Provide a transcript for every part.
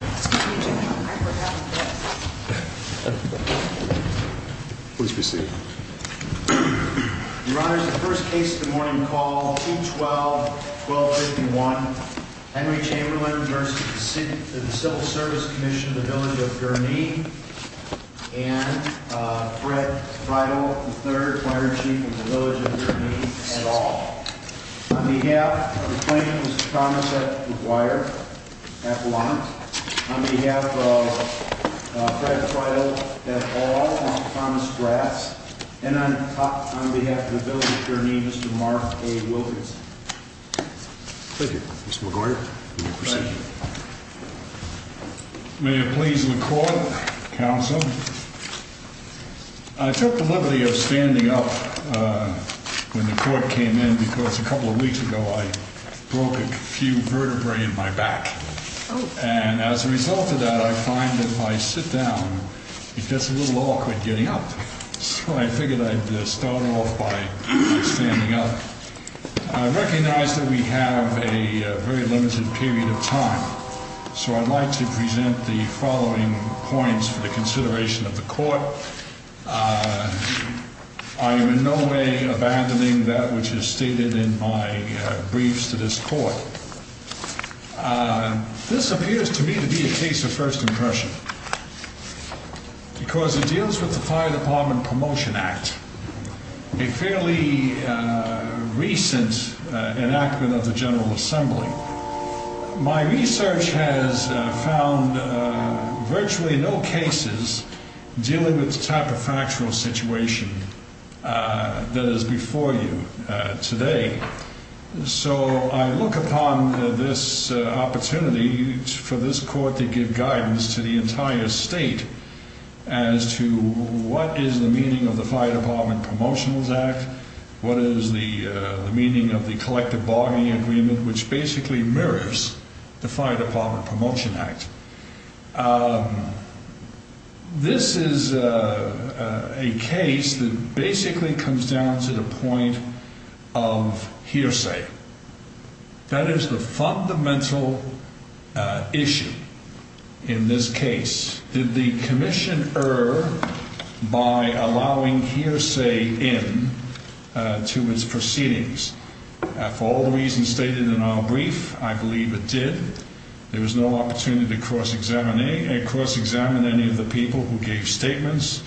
The first case of the morning called 2-12-1251, Henry Chamberlain v. the Civil Service Commission of the Village of Gurnee, and Fred Freidel, the third fire chief of the Village of Gurnee et al. On behalf of the claimants, Mr. Thomas F. McGuire et al., on behalf of Fred Freidel et al., Mr. Thomas Grass, and on behalf of the Village of Gurnee, Mr. Mark A. Wilkinson. Thank you. Mr. McGuire, you may proceed. Thank you. May it please the Court, Counsel. I took the liberty of standing up when the Court came in because a couple of weeks ago I broke a few vertebrae in my back, and as a result of that I find that if I sit down it gets a little awkward getting up, so I figured I'd start off by standing up. I recognize that we have a very limited period of time, so I'd like to present the following points for the consideration of the Court. I am in no way abandoning that which is stated in my briefs to this Court. This appears to me to be a case of first impression because it deals with the Fire Department Promotion Act, a fairly recent enactment of the General Assembly. My research has found virtually no cases dealing with the type of factual situation that is before you today, so I look upon this opportunity for this Court to give guidance to the entire State as to what is the meaning of the Fire Department Promotions Act, what is the meaning of the Collective Bargaining Agreement, which basically mirrors the Fire Department Promotions Act. This is a case that basically comes down to the point of hearsay. That is the fundamental issue in this case. Did the Commissioner, by allowing hearsay in to his proceedings, for all the reasons stated in our brief, I believe it did. There was no opportunity to cross-examine any of the people who gave statements.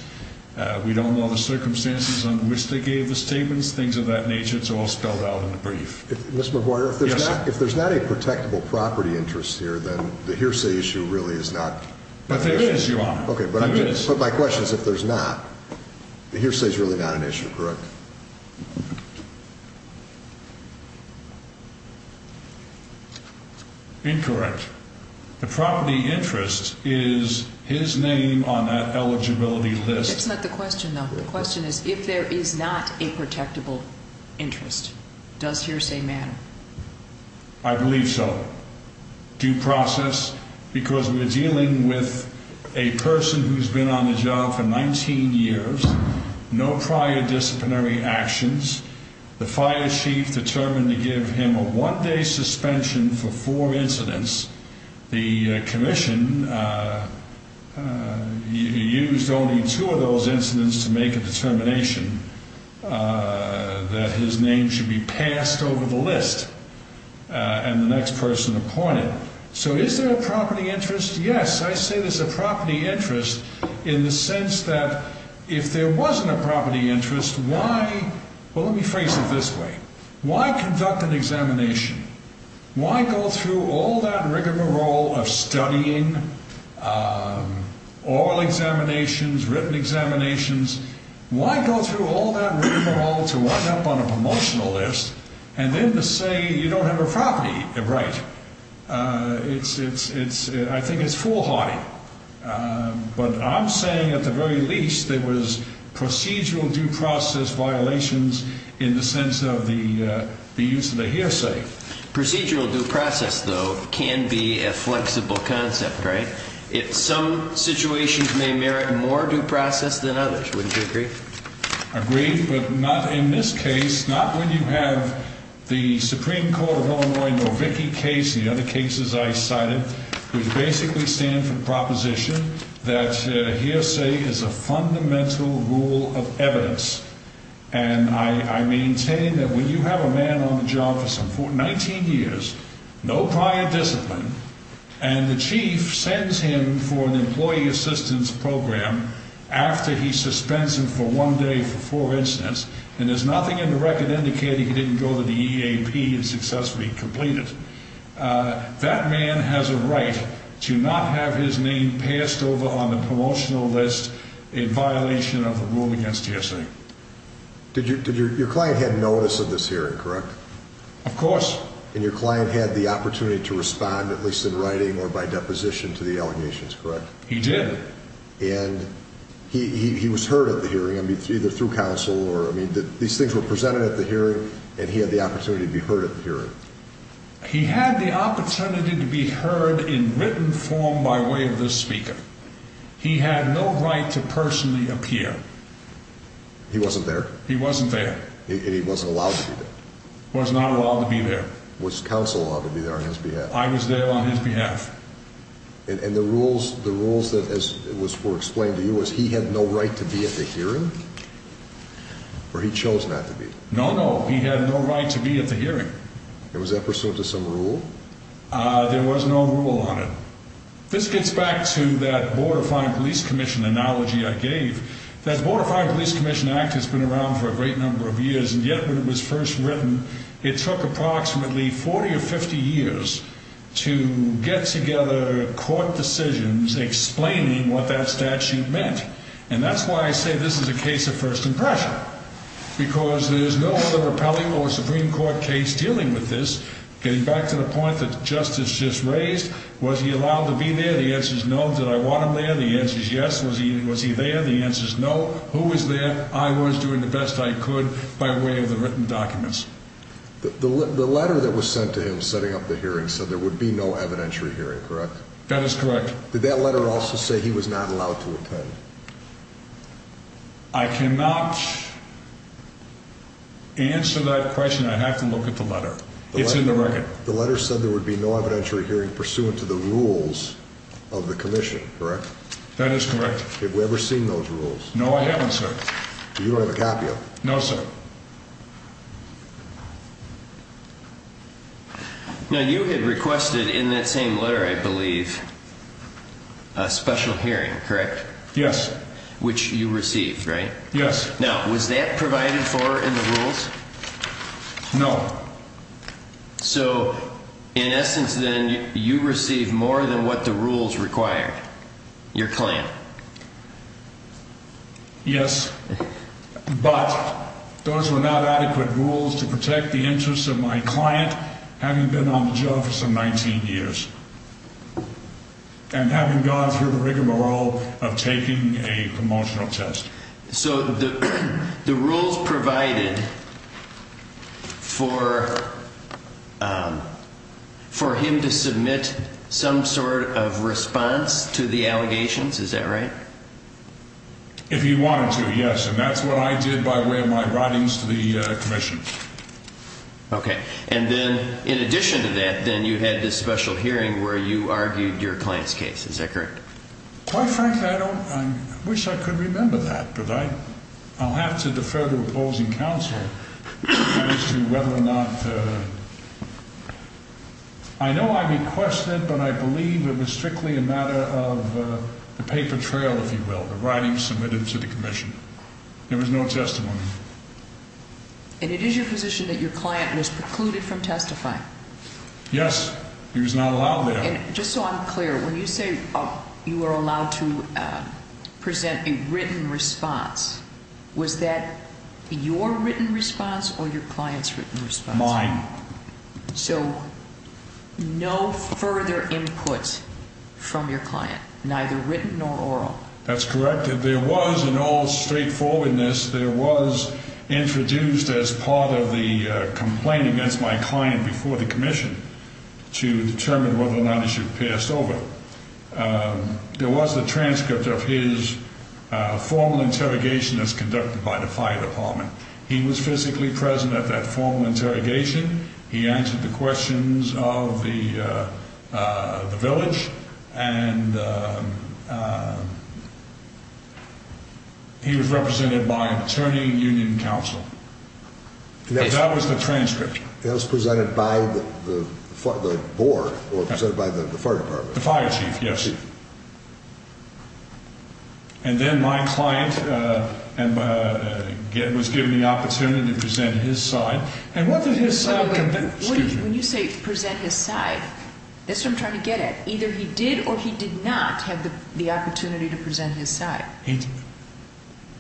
We don't know the circumstances under which they gave the statements, things of that nature. It's all spelled out in the brief. Ms. McGuire, if there's not a protectable property interest here, then the hearsay issue really is not an issue. It is, Your Honor. It is. But my question is, if there's not, the hearsay is really not an issue, correct? Incorrect. The property interest is his name on that eligibility list. That's not the question, though. The question is, if there is not a protectable interest, does hearsay matter? I believe so. Due process, because we're dealing with a person who's been on the job for 19 years, no prior disciplinary actions. The fire chief determined to give him a one-day suspension for four incidents. The commission used only two of those incidents to make a determination that his name should be passed over the list and the next person appointed. So is there a property interest? Yes. I say there's a property interest in the sense that if there wasn't a property interest, why? Well, let me phrase it this way. Why conduct an examination? Why go through all that rigmarole of studying, oral examinations, written examinations? Why go through all that rigmarole to wind up on a promotional list and then to say you don't have a property? Right. I think it's foolhardy. But I'm saying at the very least there was procedural due process violations in the sense of the use of the hearsay. Procedural due process, though, can be a flexible concept, right? If some situations may merit more due process than others, wouldn't you agree? Agree, but not in this case, not when you have the Supreme Court of Illinois Novicki case and the other cases I cited, which basically stand for the proposition that hearsay is a fundamental rule of evidence. And I maintain that when you have a man on the job for 19 years, no prior discipline, and the chief sends him for an employee assistance program after he suspends him for one day for four incidents, and there's nothing in the record indicating he didn't go to the EAP and successfully complete it, that man has a right to not have his name passed over on the promotional list in violation of the rule against hearsay. Did your client have notice of this hearing, correct? Of course. And your client had the opportunity to respond, at least in writing or by deposition, to the allegations, correct? He did. And he was heard at the hearing, I mean, either through counsel or, I mean, these things were He had the opportunity to be heard in written form by way of this speaker. He had no right to personally appear. He wasn't there? He wasn't there. And he wasn't allowed to be there? Was not allowed to be there. Was counsel allowed to be there on his behalf? I was there on his behalf. And the rules, the rules that were explained to you was he had no right to be at the hearing? Or he chose not to be? No, no. He had no right to be at the hearing. Was that pursuant to some rule? There was no rule on it. This gets back to that Board of Fire and Police Commission analogy I gave. That Board of Fire and Police Commission Act has been around for a great number of years, and yet when it was first written, it took approximately 40 or 50 years to get together court decisions explaining what that statute meant. And that's why I say this is a case of first impression. Because there's no other rappelling or Supreme Court case dealing with this, getting back to the point that Justice just raised. Was he allowed to be there? The answer is no. Did I want him there? The answer is yes. Was he there? The answer is no. Who was there? I was doing the best I could by way of the written documents. The letter that was sent to him setting up the hearing said there would be no evidentiary hearing, correct? That is correct. Did that letter also say he was not allowed to attend? I cannot answer that question. I have to look at the letter. It's in the record. The letter said there would be no evidentiary hearing pursuant to the rules of the commission, correct? That is correct. Have we ever seen those rules? No, I haven't, sir. You don't have a copy of it? No, sir. Now, you had requested in that same letter, I believe, a special hearing, correct? Yes. Which you received, right? Yes. Now, was that provided for in the rules? No. So, in essence, then, you received more than what the rules required, your claim? Yes. But those were not adequate rules to protect the interests of my client having been on the job for some 19 years and having gone through the rigmarole of taking a promotional test. So, the rules provided for him to submit some sort of response to the allegations, is that right? If he wanted to, yes. And that's what I did by way of my writings to the commission. Okay. And then, in addition to that, then, you had this special hearing where you argued your client's case. Is that correct? Quite frankly, I don't – I wish I could remember that, but I'll have to defer to opposing counsel as to whether or not – I know I requested, but I believe it was strictly a matter of the paper trail, if you will, the writings submitted to the commission. There was no testimony. And it is your position that your client was precluded from testifying? Yes. He was not allowed there. And just so I'm clear, when you say you were allowed to present a written response, was that your written response or your client's written response? Mine. So, no further input from your client, neither written nor oral? That's correct. There was, in all straightforwardness, there was introduced as part of the complaint against my client before the commission to determine whether or not he should have passed over. There was the transcript of his formal interrogation as conducted by the fire department. He was physically present at that formal interrogation. He answered the questions of the village. And he was represented by an attorney and union counsel. That was the transcript. That was presented by the board or presented by the fire department? The fire chief, yes. And then my client was given the opportunity to present his side. When you say present his side, that's what I'm trying to get at. Either he did or he did not have the opportunity to present his side.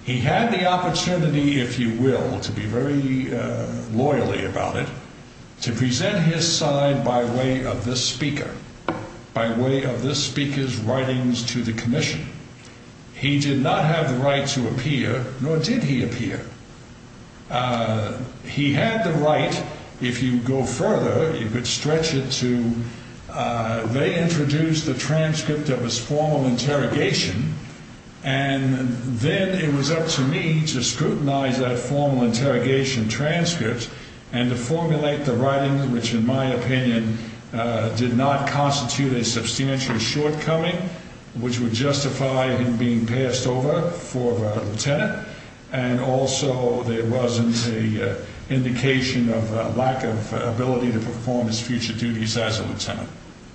He had the opportunity, if you will, to be very loyally about it, to present his side by way of this speaker, by way of this speaker's writings to the commission. He did not have the right to appear, nor did he appear. He had the right, if you go further, you could stretch it to they introduced the transcript of his formal interrogation. And then it was up to me to scrutinize that formal interrogation transcript and to formulate the writing, which in my opinion did not constitute a substantial shortcoming, which would justify him being passed over for a lieutenant. And also there wasn't an indication of a lack of ability to perform his future duties as a lieutenant.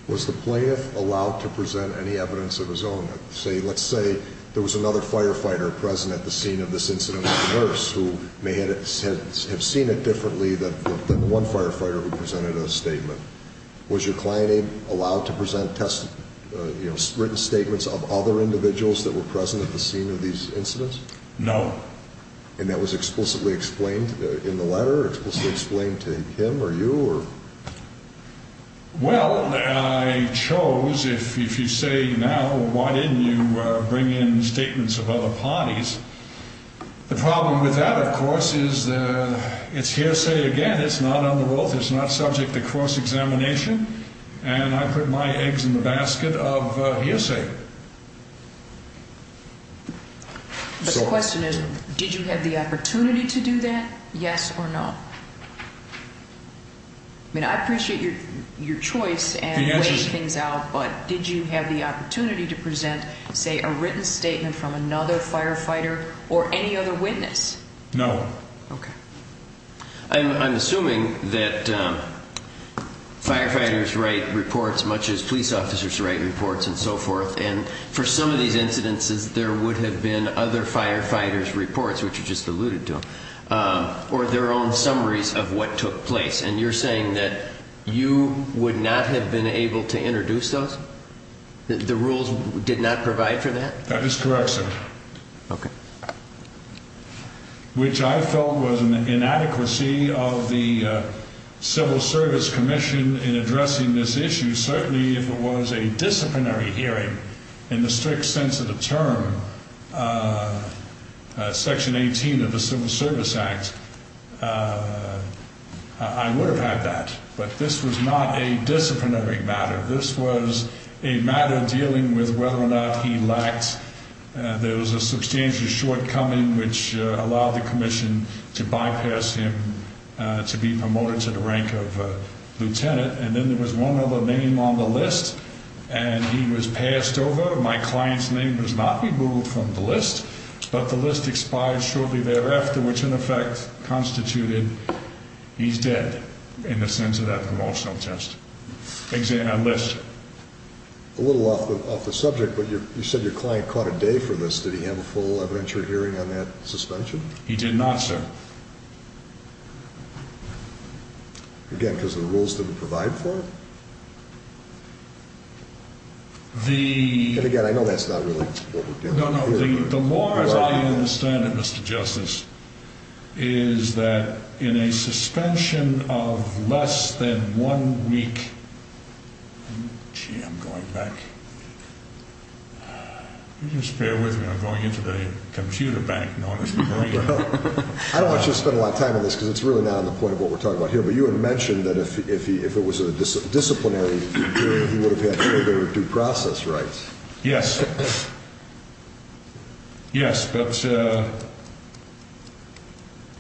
Was the plaintiff allowed to present any evidence of his own? Let's say there was another firefighter present at the scene of this incident, a nurse, who may have seen it differently than one firefighter who presented a statement. Was your client allowed to present written statements of other individuals that were present at the scene of these incidents? No. And that was explicitly explained in the letter, explicitly explained to him or you? Well, I chose, if you say now, why didn't you bring in statements of other parties? The problem with that, of course, is it's hearsay again. It's not under oath. It's not subject to course examination. And I put my eggs in the basket of hearsay. But the question is, did you have the opportunity to do that, yes or no? I mean, I appreciate your choice and weighing things out, but did you have the opportunity to present, say, a written statement from another firefighter or any other witness? No. Okay. I'm assuming that firefighters write reports much as police officers write reports and so forth. And for some of these incidences, there would have been other firefighters' reports, which you just alluded to, or their own summaries of what took place. And you're saying that you would not have been able to introduce those? The rules did not provide for that? That is correct, sir. Okay. Which I felt was an inadequacy of the Civil Service Commission in addressing this issue. Certainly, if it was a disciplinary hearing in the strict sense of the term, Section 18 of the Civil Service Act, I would have had that. But this was not a disciplinary matter. This was a matter dealing with whether or not he lacked – there was a substantial shortcoming which allowed the commission to bypass him to be promoted to the rank of lieutenant. And then there was one other name on the list, and he was passed over. My client's name was not removed from the list. But the list expired shortly thereafter, which in effect constituted he's dead in the sense of that promotional test list. A little off the subject, but you said your client caught a day for this. Did he have a full evidentiary hearing on that suspension? He did not, sir. Again, because the rules didn't provide for it? The – And again, I know that's not really what we're getting here. No, no. The more as I understand it, Mr. Justice, is that in a suspension of less than one week – gee, I'm going back. You just bear with me. I'm going into the computer bank. I don't want you to spend a lot of time on this because it's really not on the point of what we're talking about here. But you had mentioned that if it was a disciplinary hearing, he would have had further due process rights. Yes. Yes, but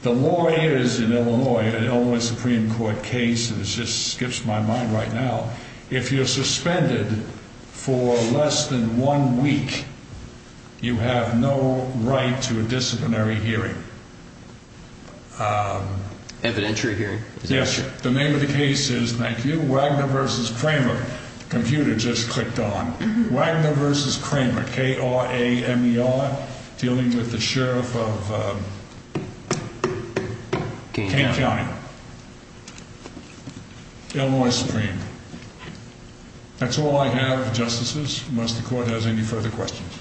the law is in Illinois, an Illinois Supreme Court case, and this just skips my mind right now. If you're suspended for less than one week, you have no right to a disciplinary hearing. Evidentiary hearing? Yes, sir. The name of the case is – thank you – Wagner v. Kramer. The computer just clicked on. Wagner v. Kramer, K-R-A-M-E-R, dealing with the sheriff of Kane County, Illinois Supreme. That's all I have, Justices, unless the Court has any further questions.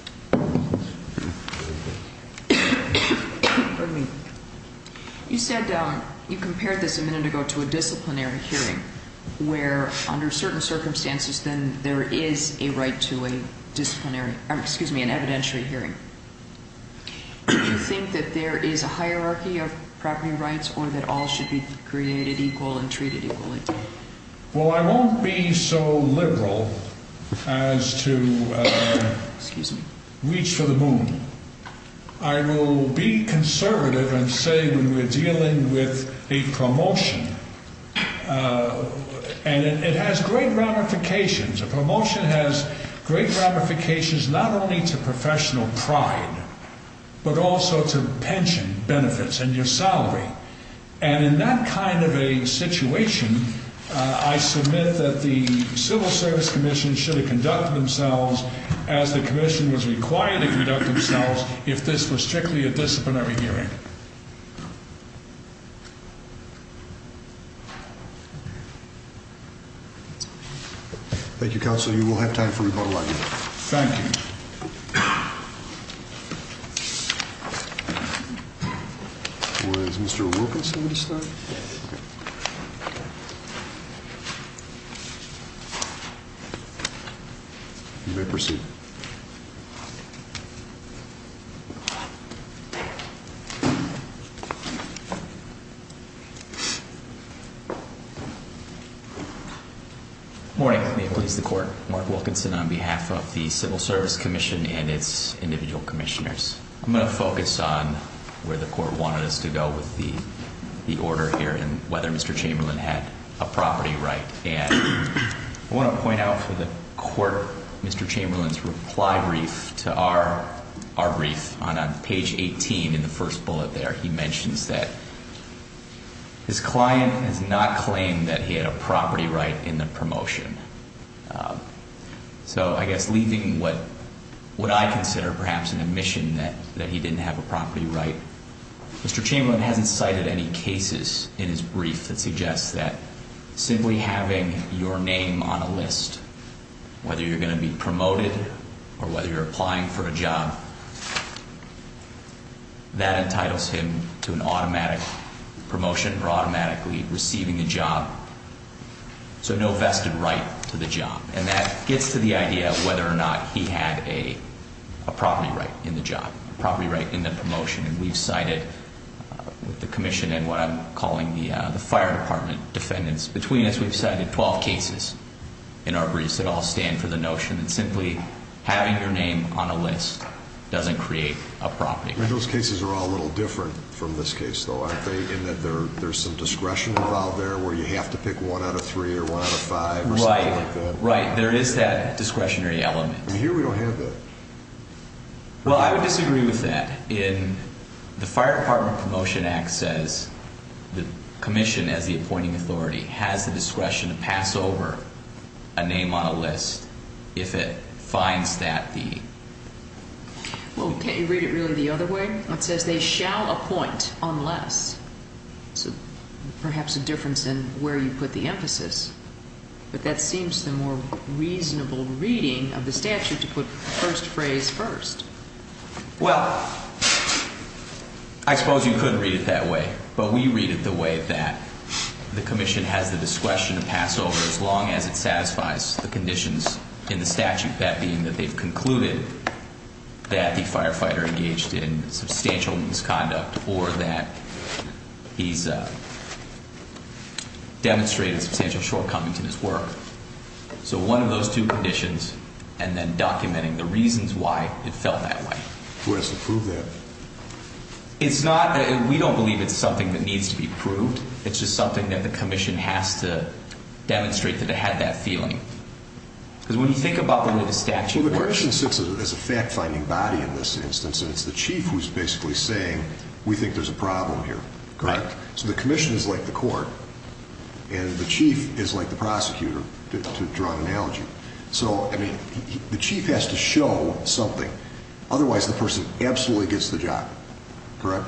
Pardon me. You said – you compared this a minute ago to a disciplinary hearing, where under certain circumstances then there is a right to a disciplinary – excuse me, an evidentiary hearing. Do you think that there is a hierarchy of property rights or that all should be created equal and treated equally? Well, I won't be so liberal as to reach for the moon. I will be conservative and say when we're dealing with a promotion, and it has great ramifications. A promotion has great ramifications not only to professional pride, but also to pension benefits and your salary. And in that kind of a situation, I submit that the Civil Service Commission should have conducted themselves as the Commission was required to conduct themselves if this was strictly a disciplinary hearing. Thank you, Counsel. You will have time for rebuttal on your end. Thank you. Was Mr. Wilkinson going to start? Yes. You may proceed. Thank you. Good morning. May it please the Court. Mark Wilkinson on behalf of the Civil Service Commission and its individual commissioners. I'm going to focus on where the Court wanted us to go with the order here and whether Mr. Chamberlain had a property right. And I want to point out for the Court, Mr. Chamberlain's reply brief to our brief on page 18 in the first bullet there, he mentions that his client has not claimed that he had a property right in the promotion. So I guess leaving what I consider perhaps an admission that he didn't have a property right, Mr. Chamberlain hasn't cited any cases in his brief that suggest that simply having your name on a list, whether you're going to be promoted or whether you're applying for a job, that entitles him to an automatic promotion or automatically receiving a job, so no vested right to the job. And that gets to the idea of whether or not he had a property right in the job, a property right in the promotion. And we've cited, with the commission and what I'm calling the fire department defendants between us, we've cited 12 cases in our briefs that all stand for the notion that simply having your name on a list doesn't create a property right. Those cases are all a little different from this case, though, aren't they, in that there's some discretion involved there where you have to pick one out of three or one out of five or something like that? Right. There is that discretionary element. Here we don't have that. Well, I would disagree with that. In the Fire Department Promotion Act says the commission, as the appointing authority, has the discretion to pass over a name on a list if it finds that the... Well, can't you read it really the other way? It says they shall appoint unless. So perhaps a difference in where you put the emphasis. But that seems the more reasonable reading of the statute to put the first phrase first. Well, I suppose you could read it that way. But we read it the way that the commission has the discretion to pass over as long as it satisfies the conditions in the statute, that being that they've concluded that the firefighter engaged in substantial misconduct or that he's demonstrated substantial shortcomings in his work. So one of those two conditions, and then documenting the reasons why it felt that way. Who has to prove that? It's not, we don't believe it's something that needs to be proved. It's just something that the commission has to demonstrate that it had that feeling. Because when you think about the way the statute works... Well, the commission sits as a fact-finding body in this instance, and it's the chief who's basically saying, we think there's a problem here, correct? Right. So the commission is like the court, and the chief is like the prosecutor, to draw an analogy. So, I mean, the chief has to show something. Otherwise, the person absolutely gets the job. Correct?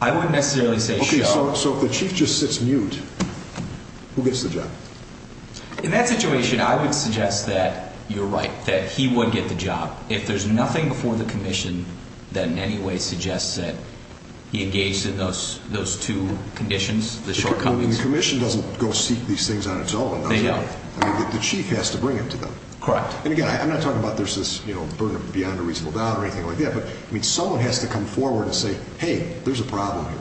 I wouldn't necessarily say show. Okay, so if the chief just sits mute, who gets the job? In that situation, I would suggest that you're right, that he would get the job. If there's nothing before the commission that in any way suggests that he engaged in those two conditions, the shortcomings. The commission doesn't go seek these things on its own, does it? They don't. I mean, the chief has to bring it to them. Correct. And again, I'm not talking about there's this, you know, burden of beyond a reasonable doubt or anything like that. But, I mean, someone has to come forward and say, hey, there's a problem here.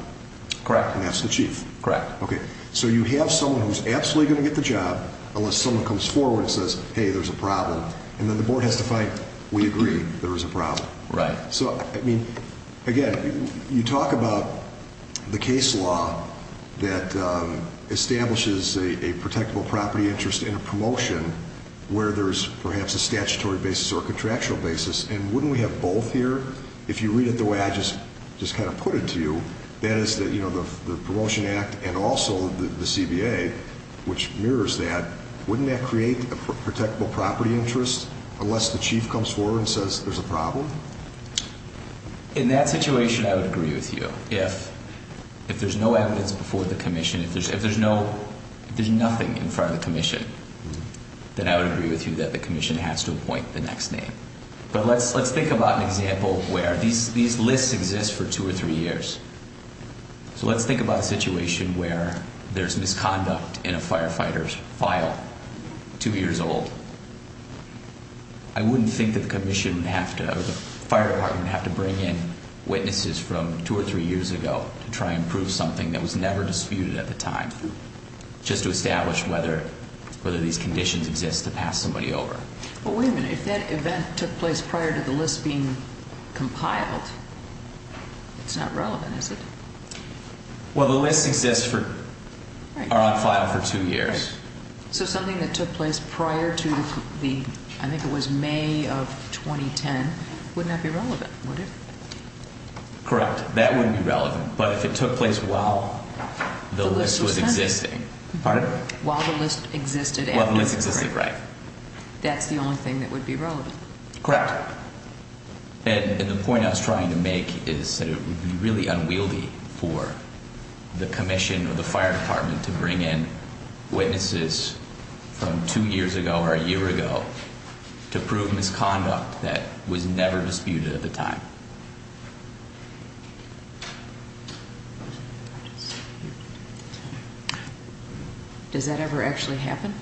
Correct. And that's the chief. Correct. Okay, so you have someone who's absolutely going to get the job, unless someone comes forward and says, hey, there's a problem. And then the board has to fight, we agree there is a problem. Right. So, I mean, again, you talk about the case law that establishes a protectable property interest in a promotion where there's perhaps a statutory basis or a contractual basis. And wouldn't we have both here? If you read it the way I just kind of put it to you, that is that, you know, the Promotion Act and also the CBA, which mirrors that, wouldn't that create a protectable property interest unless the chief comes forward and says there's a problem? In that situation, I would agree with you. If there's no evidence before the commission, if there's nothing in front of the commission, then I would agree with you that the commission has to appoint the next name. But let's think about an example where these lists exist for two or three years. So let's think about a situation where there's misconduct in a firefighter's file, two years old. I wouldn't think that the fire department would have to bring in witnesses from two or three years ago to try and prove something that was never disputed at the time, just to establish whether these conditions exist to pass somebody over. Well, wait a minute. If that event took place prior to the list being compiled, it's not relevant, is it? Well, the lists exist for, are on file for two years. So something that took place prior to the, I think it was May of 2010, wouldn't that be relevant, would it? Correct. That wouldn't be relevant. But if it took place while the list was existing. Pardon? While the list existed. While the list existed, right. That's the only thing that would be relevant. Correct. And the point I was trying to make is that it would be really unwieldy for the commission or the fire department to bring in witnesses from two years ago or a year ago to prove misconduct that was never disputed at the time. Does that ever actually happen?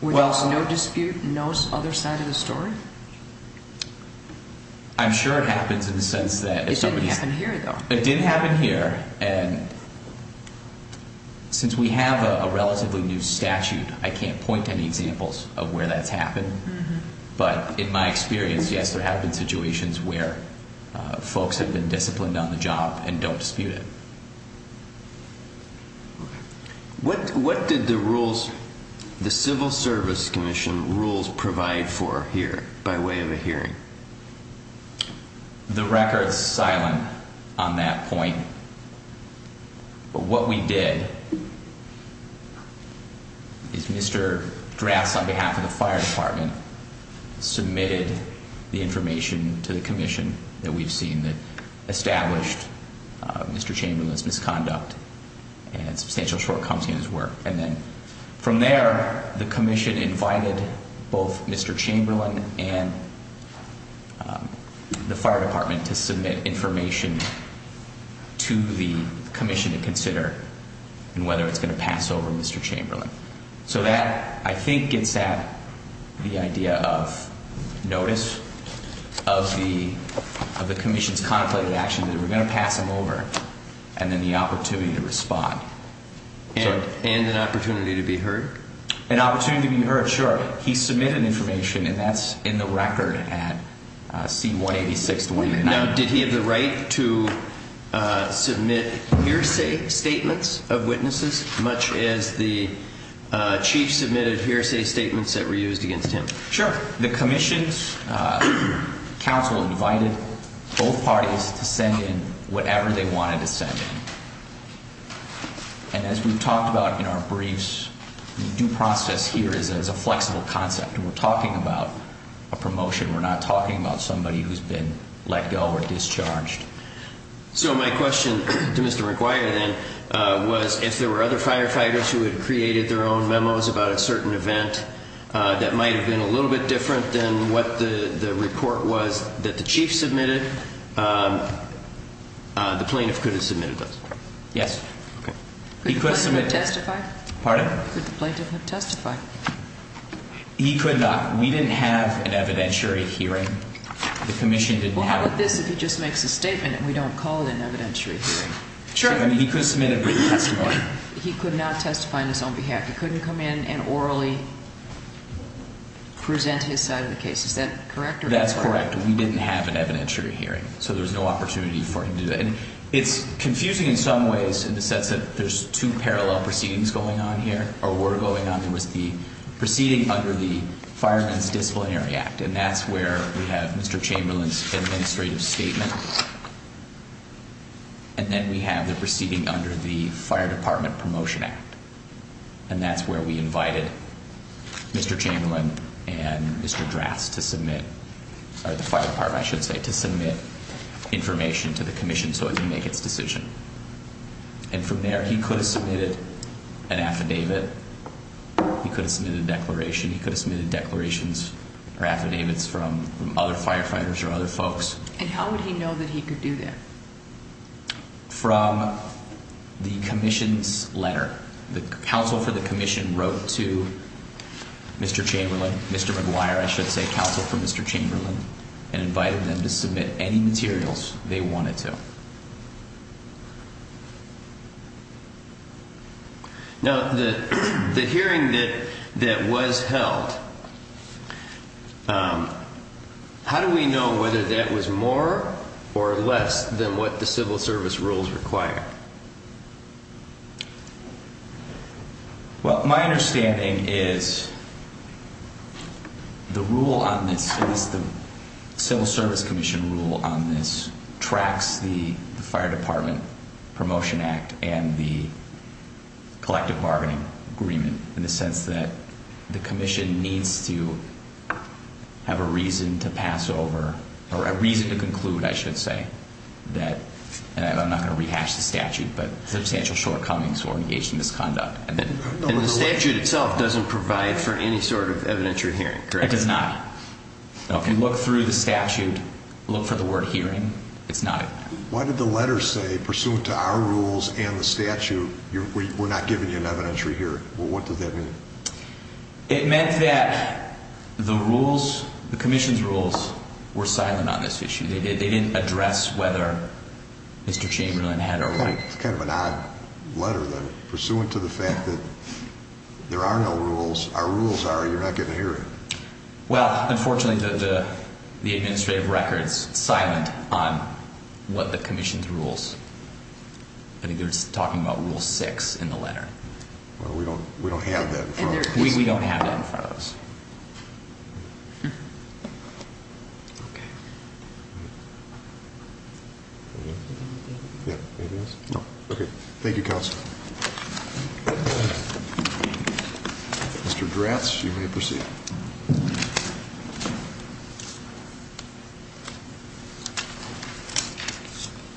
When there's no dispute, no other side of the story? I'm sure it happens in the sense that. It didn't happen here, though. It didn't happen here. And since we have a relatively new statute, I can't point to any examples of where that's happened. But in my experience, yes, there have been situations where folks have been disciplined on the job and don't dispute it. What did the rules, the Civil Service Commission rules provide for here by way of a hearing? The record's silent on that point. But what we did is Mr. Drafts, on behalf of the fire department, submitted the information to the commission that we've seen that established Mr. Chamberlain's misconduct and substantial shortcomings in his work. From there, the commission invited both Mr. Chamberlain and the fire department to submit information to the commission to consider whether it's going to pass over Mr. Chamberlain. So that, I think, gets at the idea of notice of the commission's contemplated action that we're going to pass him over and then the opportunity to respond. And an opportunity to be heard? An opportunity to be heard, sure. He submitted information, and that's in the record at C-186-29. Now, did he have the right to submit hearsay statements of witnesses, much as the chief submitted hearsay statements that were used against him? Sure. The commission's counsel invited both parties to send in whatever they wanted to send in. And as we've talked about in our briefs, due process here is a flexible concept. We're talking about a promotion. We're not talking about somebody who's been let go or discharged. So my question to Mr. McGuire, then, was if there were other firefighters who had created their own memos about a certain event that might have been a little bit different than what the report was that the chief submitted, the plaintiff could have submitted those? Yes. Could the plaintiff have testified? Pardon? Could the plaintiff have testified? He could not. We didn't have an evidentiary hearing. The commission didn't have it. I would like this if he just makes a statement and we don't call it an evidentiary hearing. Sure. He could have submitted a brief testimony. He could not testify on his own behalf. He couldn't come in and orally present his side of the case. Is that correct? That's correct. We didn't have an evidentiary hearing, so there's no opportunity for him to do that. And it's confusing in some ways in the sense that there's two parallel proceedings going on here, or were going on. There was the proceeding under the Fireman's Disciplinary Act. And that's where we have Mr. Chamberlain's administrative statement. And then we have the proceeding under the Fire Department Promotion Act. And that's where we invited Mr. Chamberlain and Mr. Drass to submit, or the Fire Department, I should say, to submit information to the commission so it could make its decision. And from there, he could have submitted an affidavit. He could have submitted a declaration. He could have submitted declarations or affidavits from other firefighters or other folks. And how would he know that he could do that? From the commission's letter. The counsel for the commission wrote to Mr. Chamberlain, Mr. McGuire, I should say, counsel for Mr. Chamberlain, and invited them to submit any materials they wanted to. Now, the hearing that was held, how do we know whether that was more or less than what the civil service rules require? Well, my understanding is the rule on this, the civil service commission rule on this, tracks the Fire Department Promotion Act and the collective bargaining agreement in the sense that the commission needs to have a reason to pass over, or a reason to conclude, I should say, that I'm not going to rehash the statute. But substantial shortcomings were engaged in this conduct. And the statute itself doesn't provide for any sort of evidentiary hearing, correct? It does not. If you look through the statute, look for the word hearing, it's not in there. Why did the letter say, pursuant to our rules and the statute, we're not giving you an evidentiary hearing? What does that mean? It meant that the rules, the commission's rules, were silent on this issue. They didn't address whether Mr. Chamberlain had a right. It's kind of an odd letter then. Pursuant to the fact that there are no rules, our rules are, you're not getting a hearing. Well, unfortunately, the administrative record's silent on what the commission's rules. I think they were talking about Rule 6 in the letter. Well, we don't have that in front of us. We don't have that in front of us. Okay. Anything else? No. Okay. Thank you, Counsel. Mr. Dratz, you may proceed.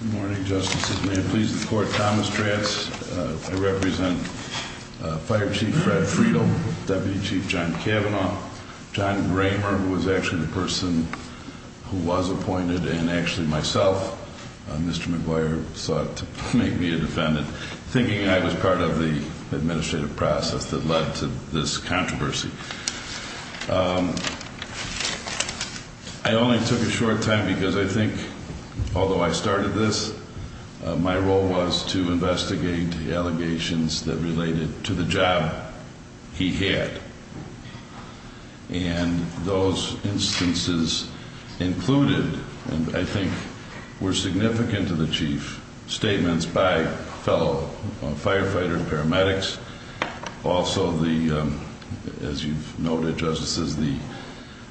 Good morning, Justices. May I please report, Thomas Dratz. I represent Fire Chief Fred Friedel, Deputy Chief John Kavanaugh. John Gramer was actually the person who was appointed, and actually myself. Mr. McGuire sought to make me a defendant, thinking I was part of the administrative process that led to this controversy. I only took a short time because I think, although I started this, my role was to investigate the allegations that related to the job he had. And those instances included, and I think were significant to the Chief, statements by fellow firefighters, paramedics, also the, as you've noted, Justices, the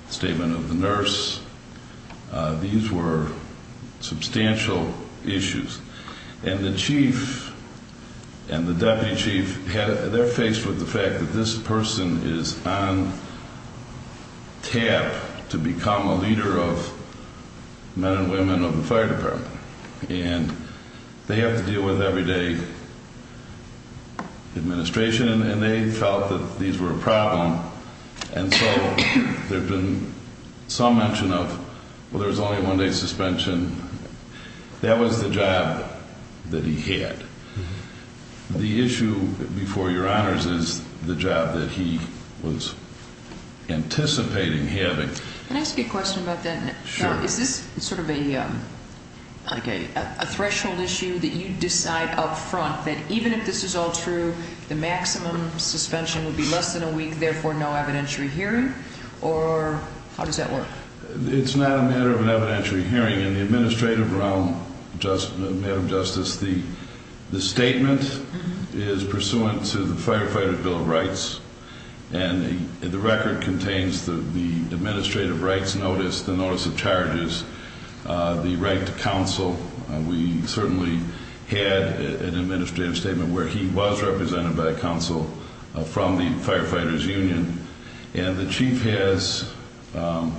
statement of the nurse. These were substantial issues. And the Chief and the Deputy Chief, they're faced with the fact that this person is on tap to become a leader of men and women of the Fire Department. And they have to deal with everyday administration, and they felt that these were a problem. And so there have been some mention of, well, there was only a one-day suspension. That was the job that he had. The issue before Your Honors is the job that he was anticipating having. Can I ask you a question about that? Sure. Is this sort of a threshold issue that you decide up front, that even if this is all true, the maximum suspension would be less than a week, therefore no evidentiary hearing? Or how does that work? It's not a matter of an evidentiary hearing. In the administrative realm, Madam Justice, the statement is pursuant to the Firefighters' Bill of Rights. And the record contains the administrative rights notice, the notice of charges, the right to counsel. We certainly had an administrative statement where he was represented by counsel from the Firefighters' Union. And the Chief has a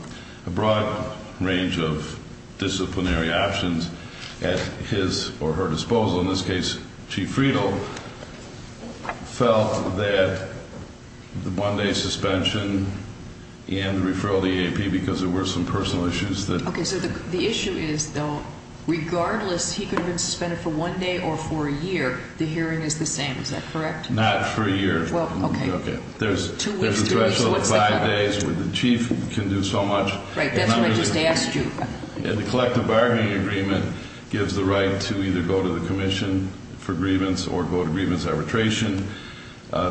broad range of disciplinary actions at his or her disposal. In this case, Chief Friedel felt that the one-day suspension and the referral to the EAP because there were some personal issues that ‑‑ Okay. So the issue is, though, regardless, he could have been suspended for one day or for a year. The hearing is the same. Is that correct? Not for a year. Well, okay. There's a threshold of five days where the Chief can do so much. Right. That's what I just asked you. And the collective bargaining agreement gives the right to either go to the commission for grievance or go to grievance arbitration.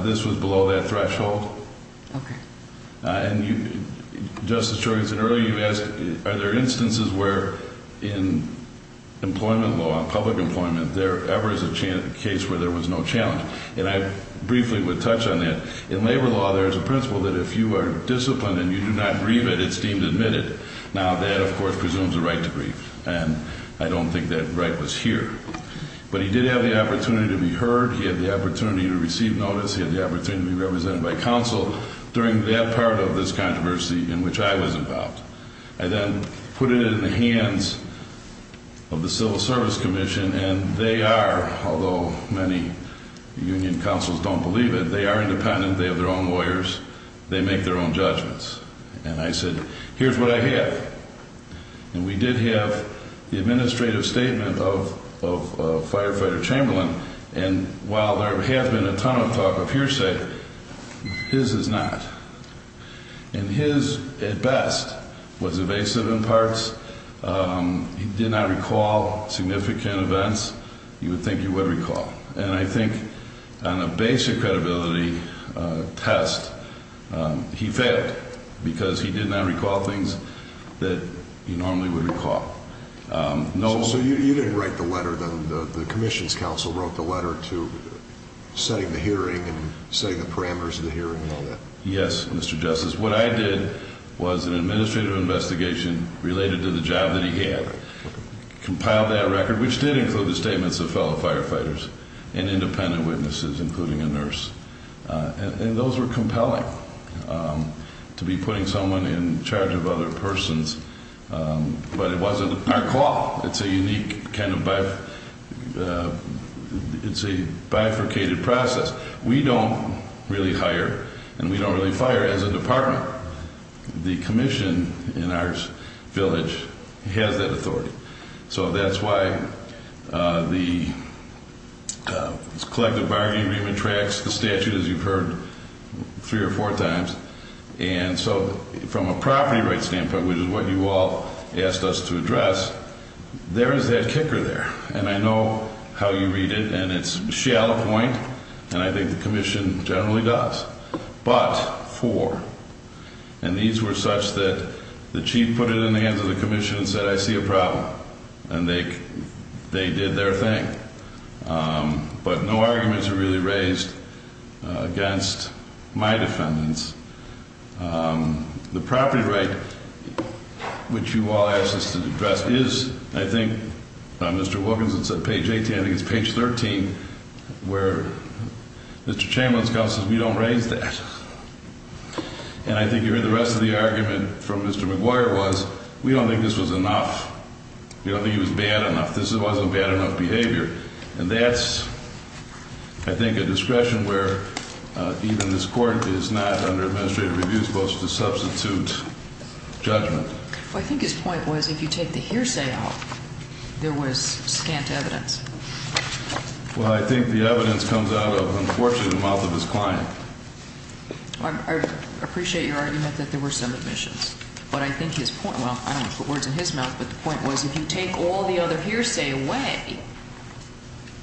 This was below that threshold. Okay. And you, Justice Jorgensen, earlier you asked, are there instances where in employment law, public employment, there ever is a case where there was no challenge? And I briefly would touch on that. In labor law, there is a principle that if you are disciplined and you do not grieve it, it's deemed admitted. Now, that, of course, presumes a right to grieve. And I don't think that right was here. But he did have the opportunity to be heard. He had the opportunity to receive notice. He had the opportunity to be represented by counsel during that part of this controversy in which I was involved. I then put it in the hands of the Civil Service Commission. And they are, although many union counsels don't believe it, they are independent. They have their own lawyers. They make their own judgments. And I said, here's what I have. And we did have the administrative statement of Firefighter Chamberlain. And while there has been a ton of talk of hearsay, his is not. And his, at best, was evasive in parts. He did not recall significant events you would think he would recall. And I think on a basic credibility test, he failed because he did not recall things that he normally would recall. So you didn't write the letter then? The Commission's counsel wrote the letter to setting the hearing and setting the parameters of the hearing and all that? Yes, Mr. Justice. What I did was an administrative investigation related to the job that he had, compiled that record, which did include the statements of fellow firefighters and independent witnesses, including a nurse. And those were compelling to be putting someone in charge of other persons. But it wasn't our call. It's a unique kind of bifurcated process. We don't really hire and we don't really fire as a department. The Commission in our village has that authority. So that's why the collective bargaining agreement tracks the statute, as you've heard three or four times. And so from a property rights standpoint, which is what you all asked us to address, there is that kicker there. And I know how you read it, and it's shallow point. And I think the Commission generally does. But for, and these were such that the chief put it in the hands of the Commission and said, I see a problem. And they did their thing. But no arguments are really raised against my defendants. The property right, which you all asked us to address, is, I think, Mr. Wilkinson said page 18. I think it's page 13, where Mr. Chamberlain's counsel says we don't raise that. And I think you heard the rest of the argument from Mr. McGuire was we don't think this was enough. We don't think it was bad enough. This wasn't bad enough behavior. And that's, I think, a discretion where even this court is not under administrative review supposed to substitute judgment. I think his point was if you take the hearsay out, there was scant evidence. Well, I think the evidence comes out of, unfortunately, the mouth of his client. I appreciate your argument that there were some omissions. But I think his point, well, I don't want to put words in his mouth, but the point was if you take all the other hearsay away,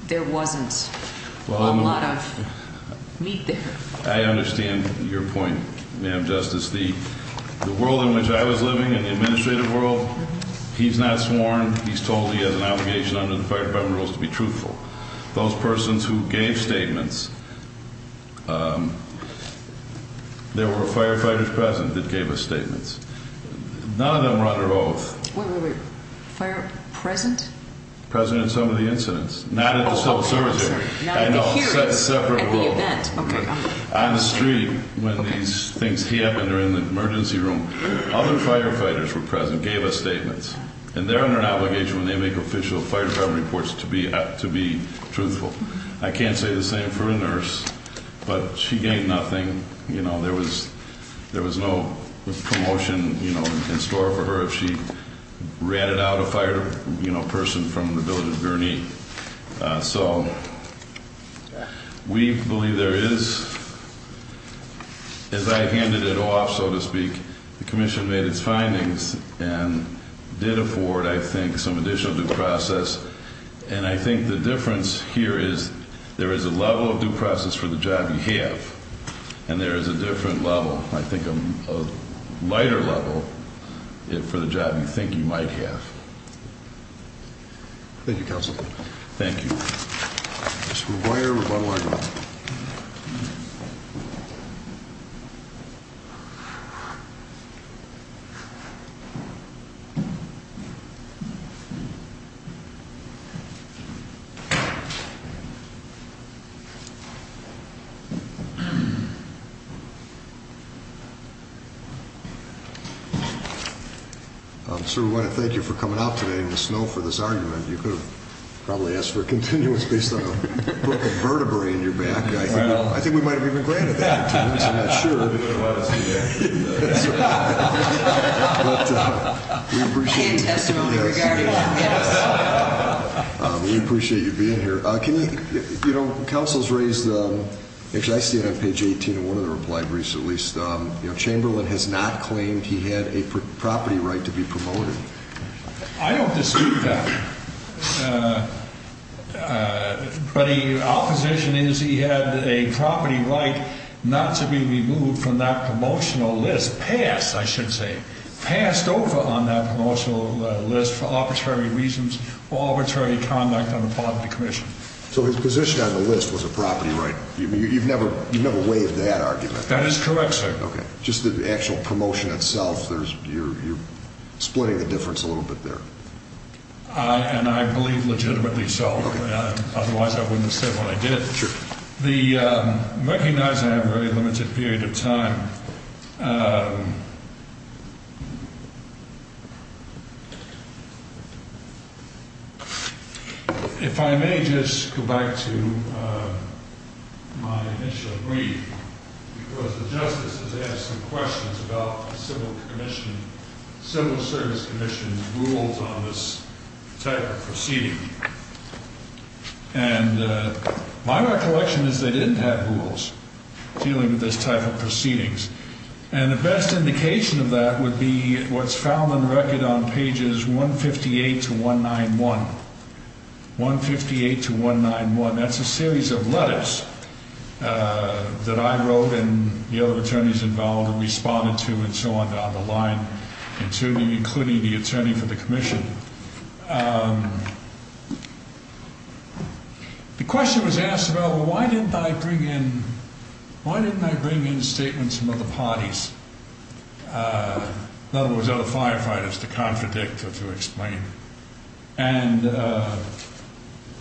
there wasn't a lot of meat there. I understand your point, Ma'am Justice. The world in which I was living, in the administrative world, he's not sworn. He's told he has an obligation under the Fire Department rules to be truthful. Those persons who gave statements, there were firefighters present that gave us statements. None of them were under oath. Wait, wait, wait. Fire? Present? Present in some of the incidents. Not at the civil service area. Not at the hearing. No, separate. At the event. Okay. On the street when these things happened or in the emergency room. Other firefighters were present, gave us statements. And they're under an obligation when they make official fire department reports to be truthful. I can't say the same for a nurse. But she gained nothing. There was no promotion in store for her if she ratted out a fire person from the building. So we believe there is, as I handed it off, so to speak, the commission made its findings and did afford, I think, some additional due process. And I think the difference here is there is a level of due process for the job you have. And there is a different level, I think, a lighter level for the job you think you might have. Thank you, counsel. Thank you. Mr. McGuire, rebuttal argument. Sir, we want to thank you for coming out today in the snow for this argument. You could have probably asked for a continuous based on a vertebrae in your back. I think we might have even granted that. I'm not sure. But we appreciate you being here. Can you, you know, counsel's raised, actually I see it on page 18 in one of the reply briefs at least. You know, Chamberlain has not claimed he had a property right to be promoted. I don't dispute that. But our position is he had a property right not to be removed from that promotional list. Passed, I should say. Passed over on that promotional list for arbitrary reasons or arbitrary conduct on the part of the commission. So his position on the list was a property right. You've never waived that argument. That is correct, sir. Okay. Just the actual promotion itself. You're splitting the difference a little bit there. And I believe legitimately so. Otherwise I wouldn't have said what I did. Sure. The recognizing I have a very limited period of time. If I may just go back to my initial brief, because the justice has asked some questions about the civil commission, civil service commission rules on this type of proceeding. And my recollection is they didn't have rules dealing with this type of proceedings. And the best indication of that would be what's found on the record on pages 158 to 191, 158 to 191. That's a series of letters that I wrote and the other attorneys involved responded to and so on down the line. Including the attorney for the commission. The question was asked about why didn't I bring in, why didn't I bring in statements from other parties? In other words, other firefighters to contradict or to explain. And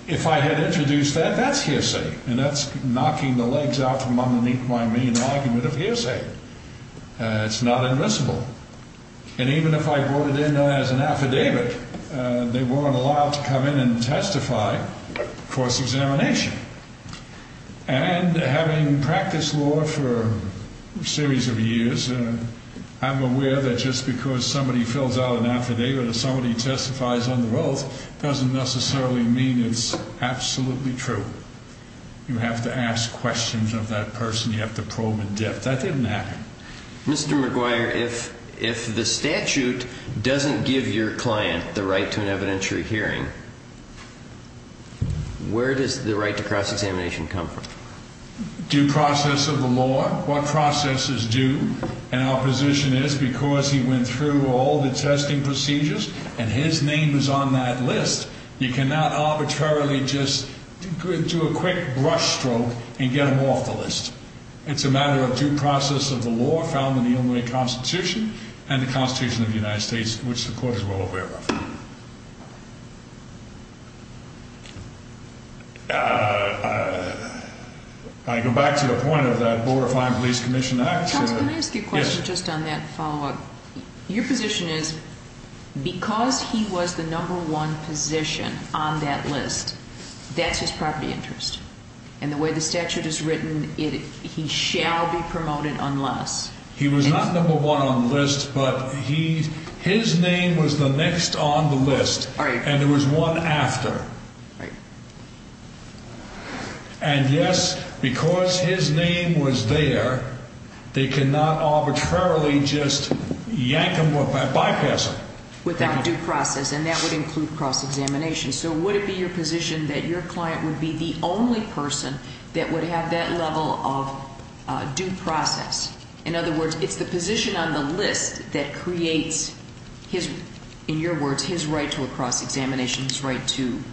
if I had introduced that, that's hearsay. And that's knocking the legs out from underneath my mean argument of hearsay. It's not admissible. And even if I brought it in as an affidavit, they weren't allowed to come in and testify for examination. And having practiced law for a series of years, I'm aware that just because somebody fills out an affidavit, or somebody testifies on the rolls doesn't necessarily mean it's absolutely true. You have to ask questions of that person. You have to probe in depth. That didn't happen. Mr. McGuire, if the statute doesn't give your client the right to an evidentiary hearing, where does the right to cross-examination come from? Due process of the law. What processes do. And our position is because he went through all the testing procedures and his name is on that list, you cannot arbitrarily just do a quick brush stroke and get him off the list. It's a matter of due process of the law found in the Illinois Constitution and the Constitution of the United States, which the court is well aware of. I go back to the point of that Borderline Police Commission Act. Counselor, can I ask you a question just on that follow-up? Your position is because he was the number one position on that list, that's his property interest. And the way the statute is written, he shall be promoted unless. He was not number one on the list, but his name was the next on the list. Right. And there was one after. Right. And, yes, because his name was there, they cannot arbitrarily just yank him or bypass him. Without due process. And that would include cross-examination. So would it be your position that your client would be the only person that would have that level of due process? In other words, it's the position on the list that creates, in your words, his right to a cross-examination, his right to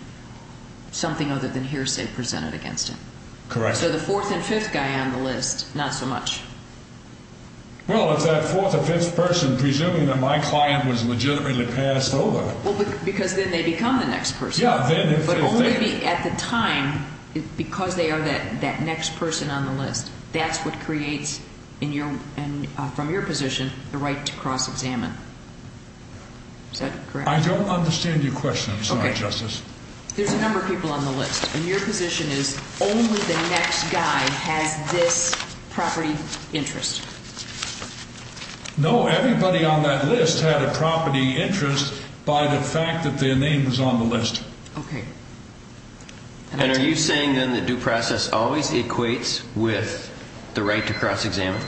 something other than hearsay presented against him. Correct. So the fourth and fifth guy on the list, not so much. Well, if that fourth or fifth person, presuming that my client was legitimately passed over. Well, because then they become the next person. Yeah. But only at the time, because they are that next person on the list, that's what creates, from your position, the right to cross-examine. Is that correct? I don't understand your question, I'm sorry, Justice. There's a number of people on the list, and your position is only the next guy has this property interest. No, everybody on that list had a property interest by the fact that their name was on the list. Okay. And are you saying, then, that due process always equates with the right to cross-examine?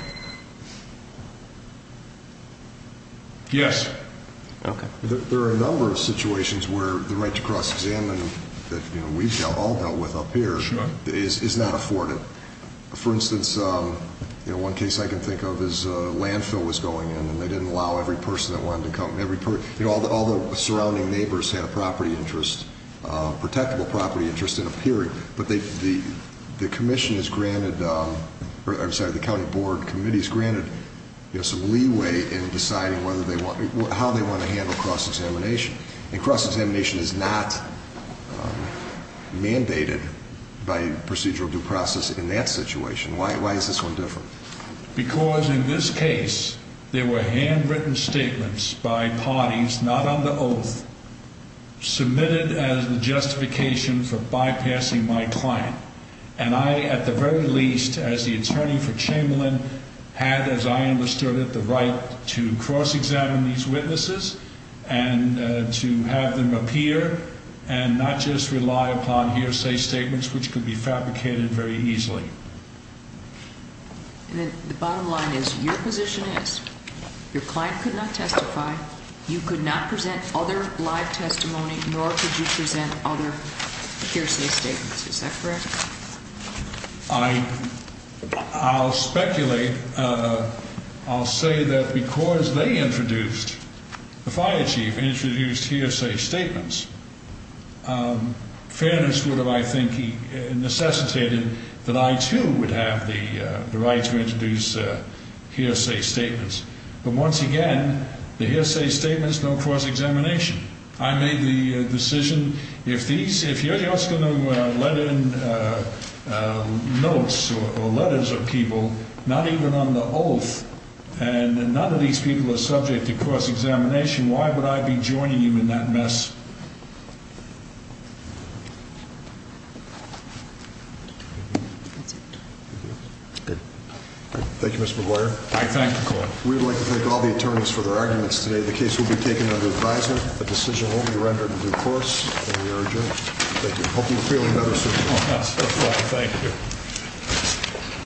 Yes. Okay. There are a number of situations where the right to cross-examine that we've all dealt with up here is not afforded. For instance, one case I can think of is a landfill was going in, and they didn't allow every person that wanted to come. All the surrounding neighbors had a property interest, a protectable property interest in a period. But the commission is granted, I'm sorry, the county board committee is granted some leeway in deciding how they want to handle cross-examination. And cross-examination is not mandated by procedural due process in that situation. Why is this one different? Because in this case, there were handwritten statements by parties not under oath submitted as the justification for bypassing my client. And I, at the very least, as the attorney for Chamberlain, had, as I understood it, the right to cross-examine these witnesses and to have them appear and not just rely upon hearsay statements, which could be fabricated very easily. And then the bottom line is your position is your client could not testify, you could not present other live testimony, nor could you present other hearsay statements. Is that correct? I'll speculate. I'll say that because they introduced, the fire chief introduced hearsay statements, fairness would have, I think, necessitated that I, too, would have the right to introduce hearsay statements. But once again, the hearsay statements don't cross-examination. I made the decision, if these, if you're just going to let in notes or letters of people, not even on the oath, and none of these people are subject to cross-examination, why would I be joining you in that mess? Thank you, Mr. McGuire. I thank the court. We would like to thank all the attorneys for their arguments today. The case will be taken under advisement. A decision will be rendered in due course, and we urge you, thank you. Hope you feel another suit. Thank you.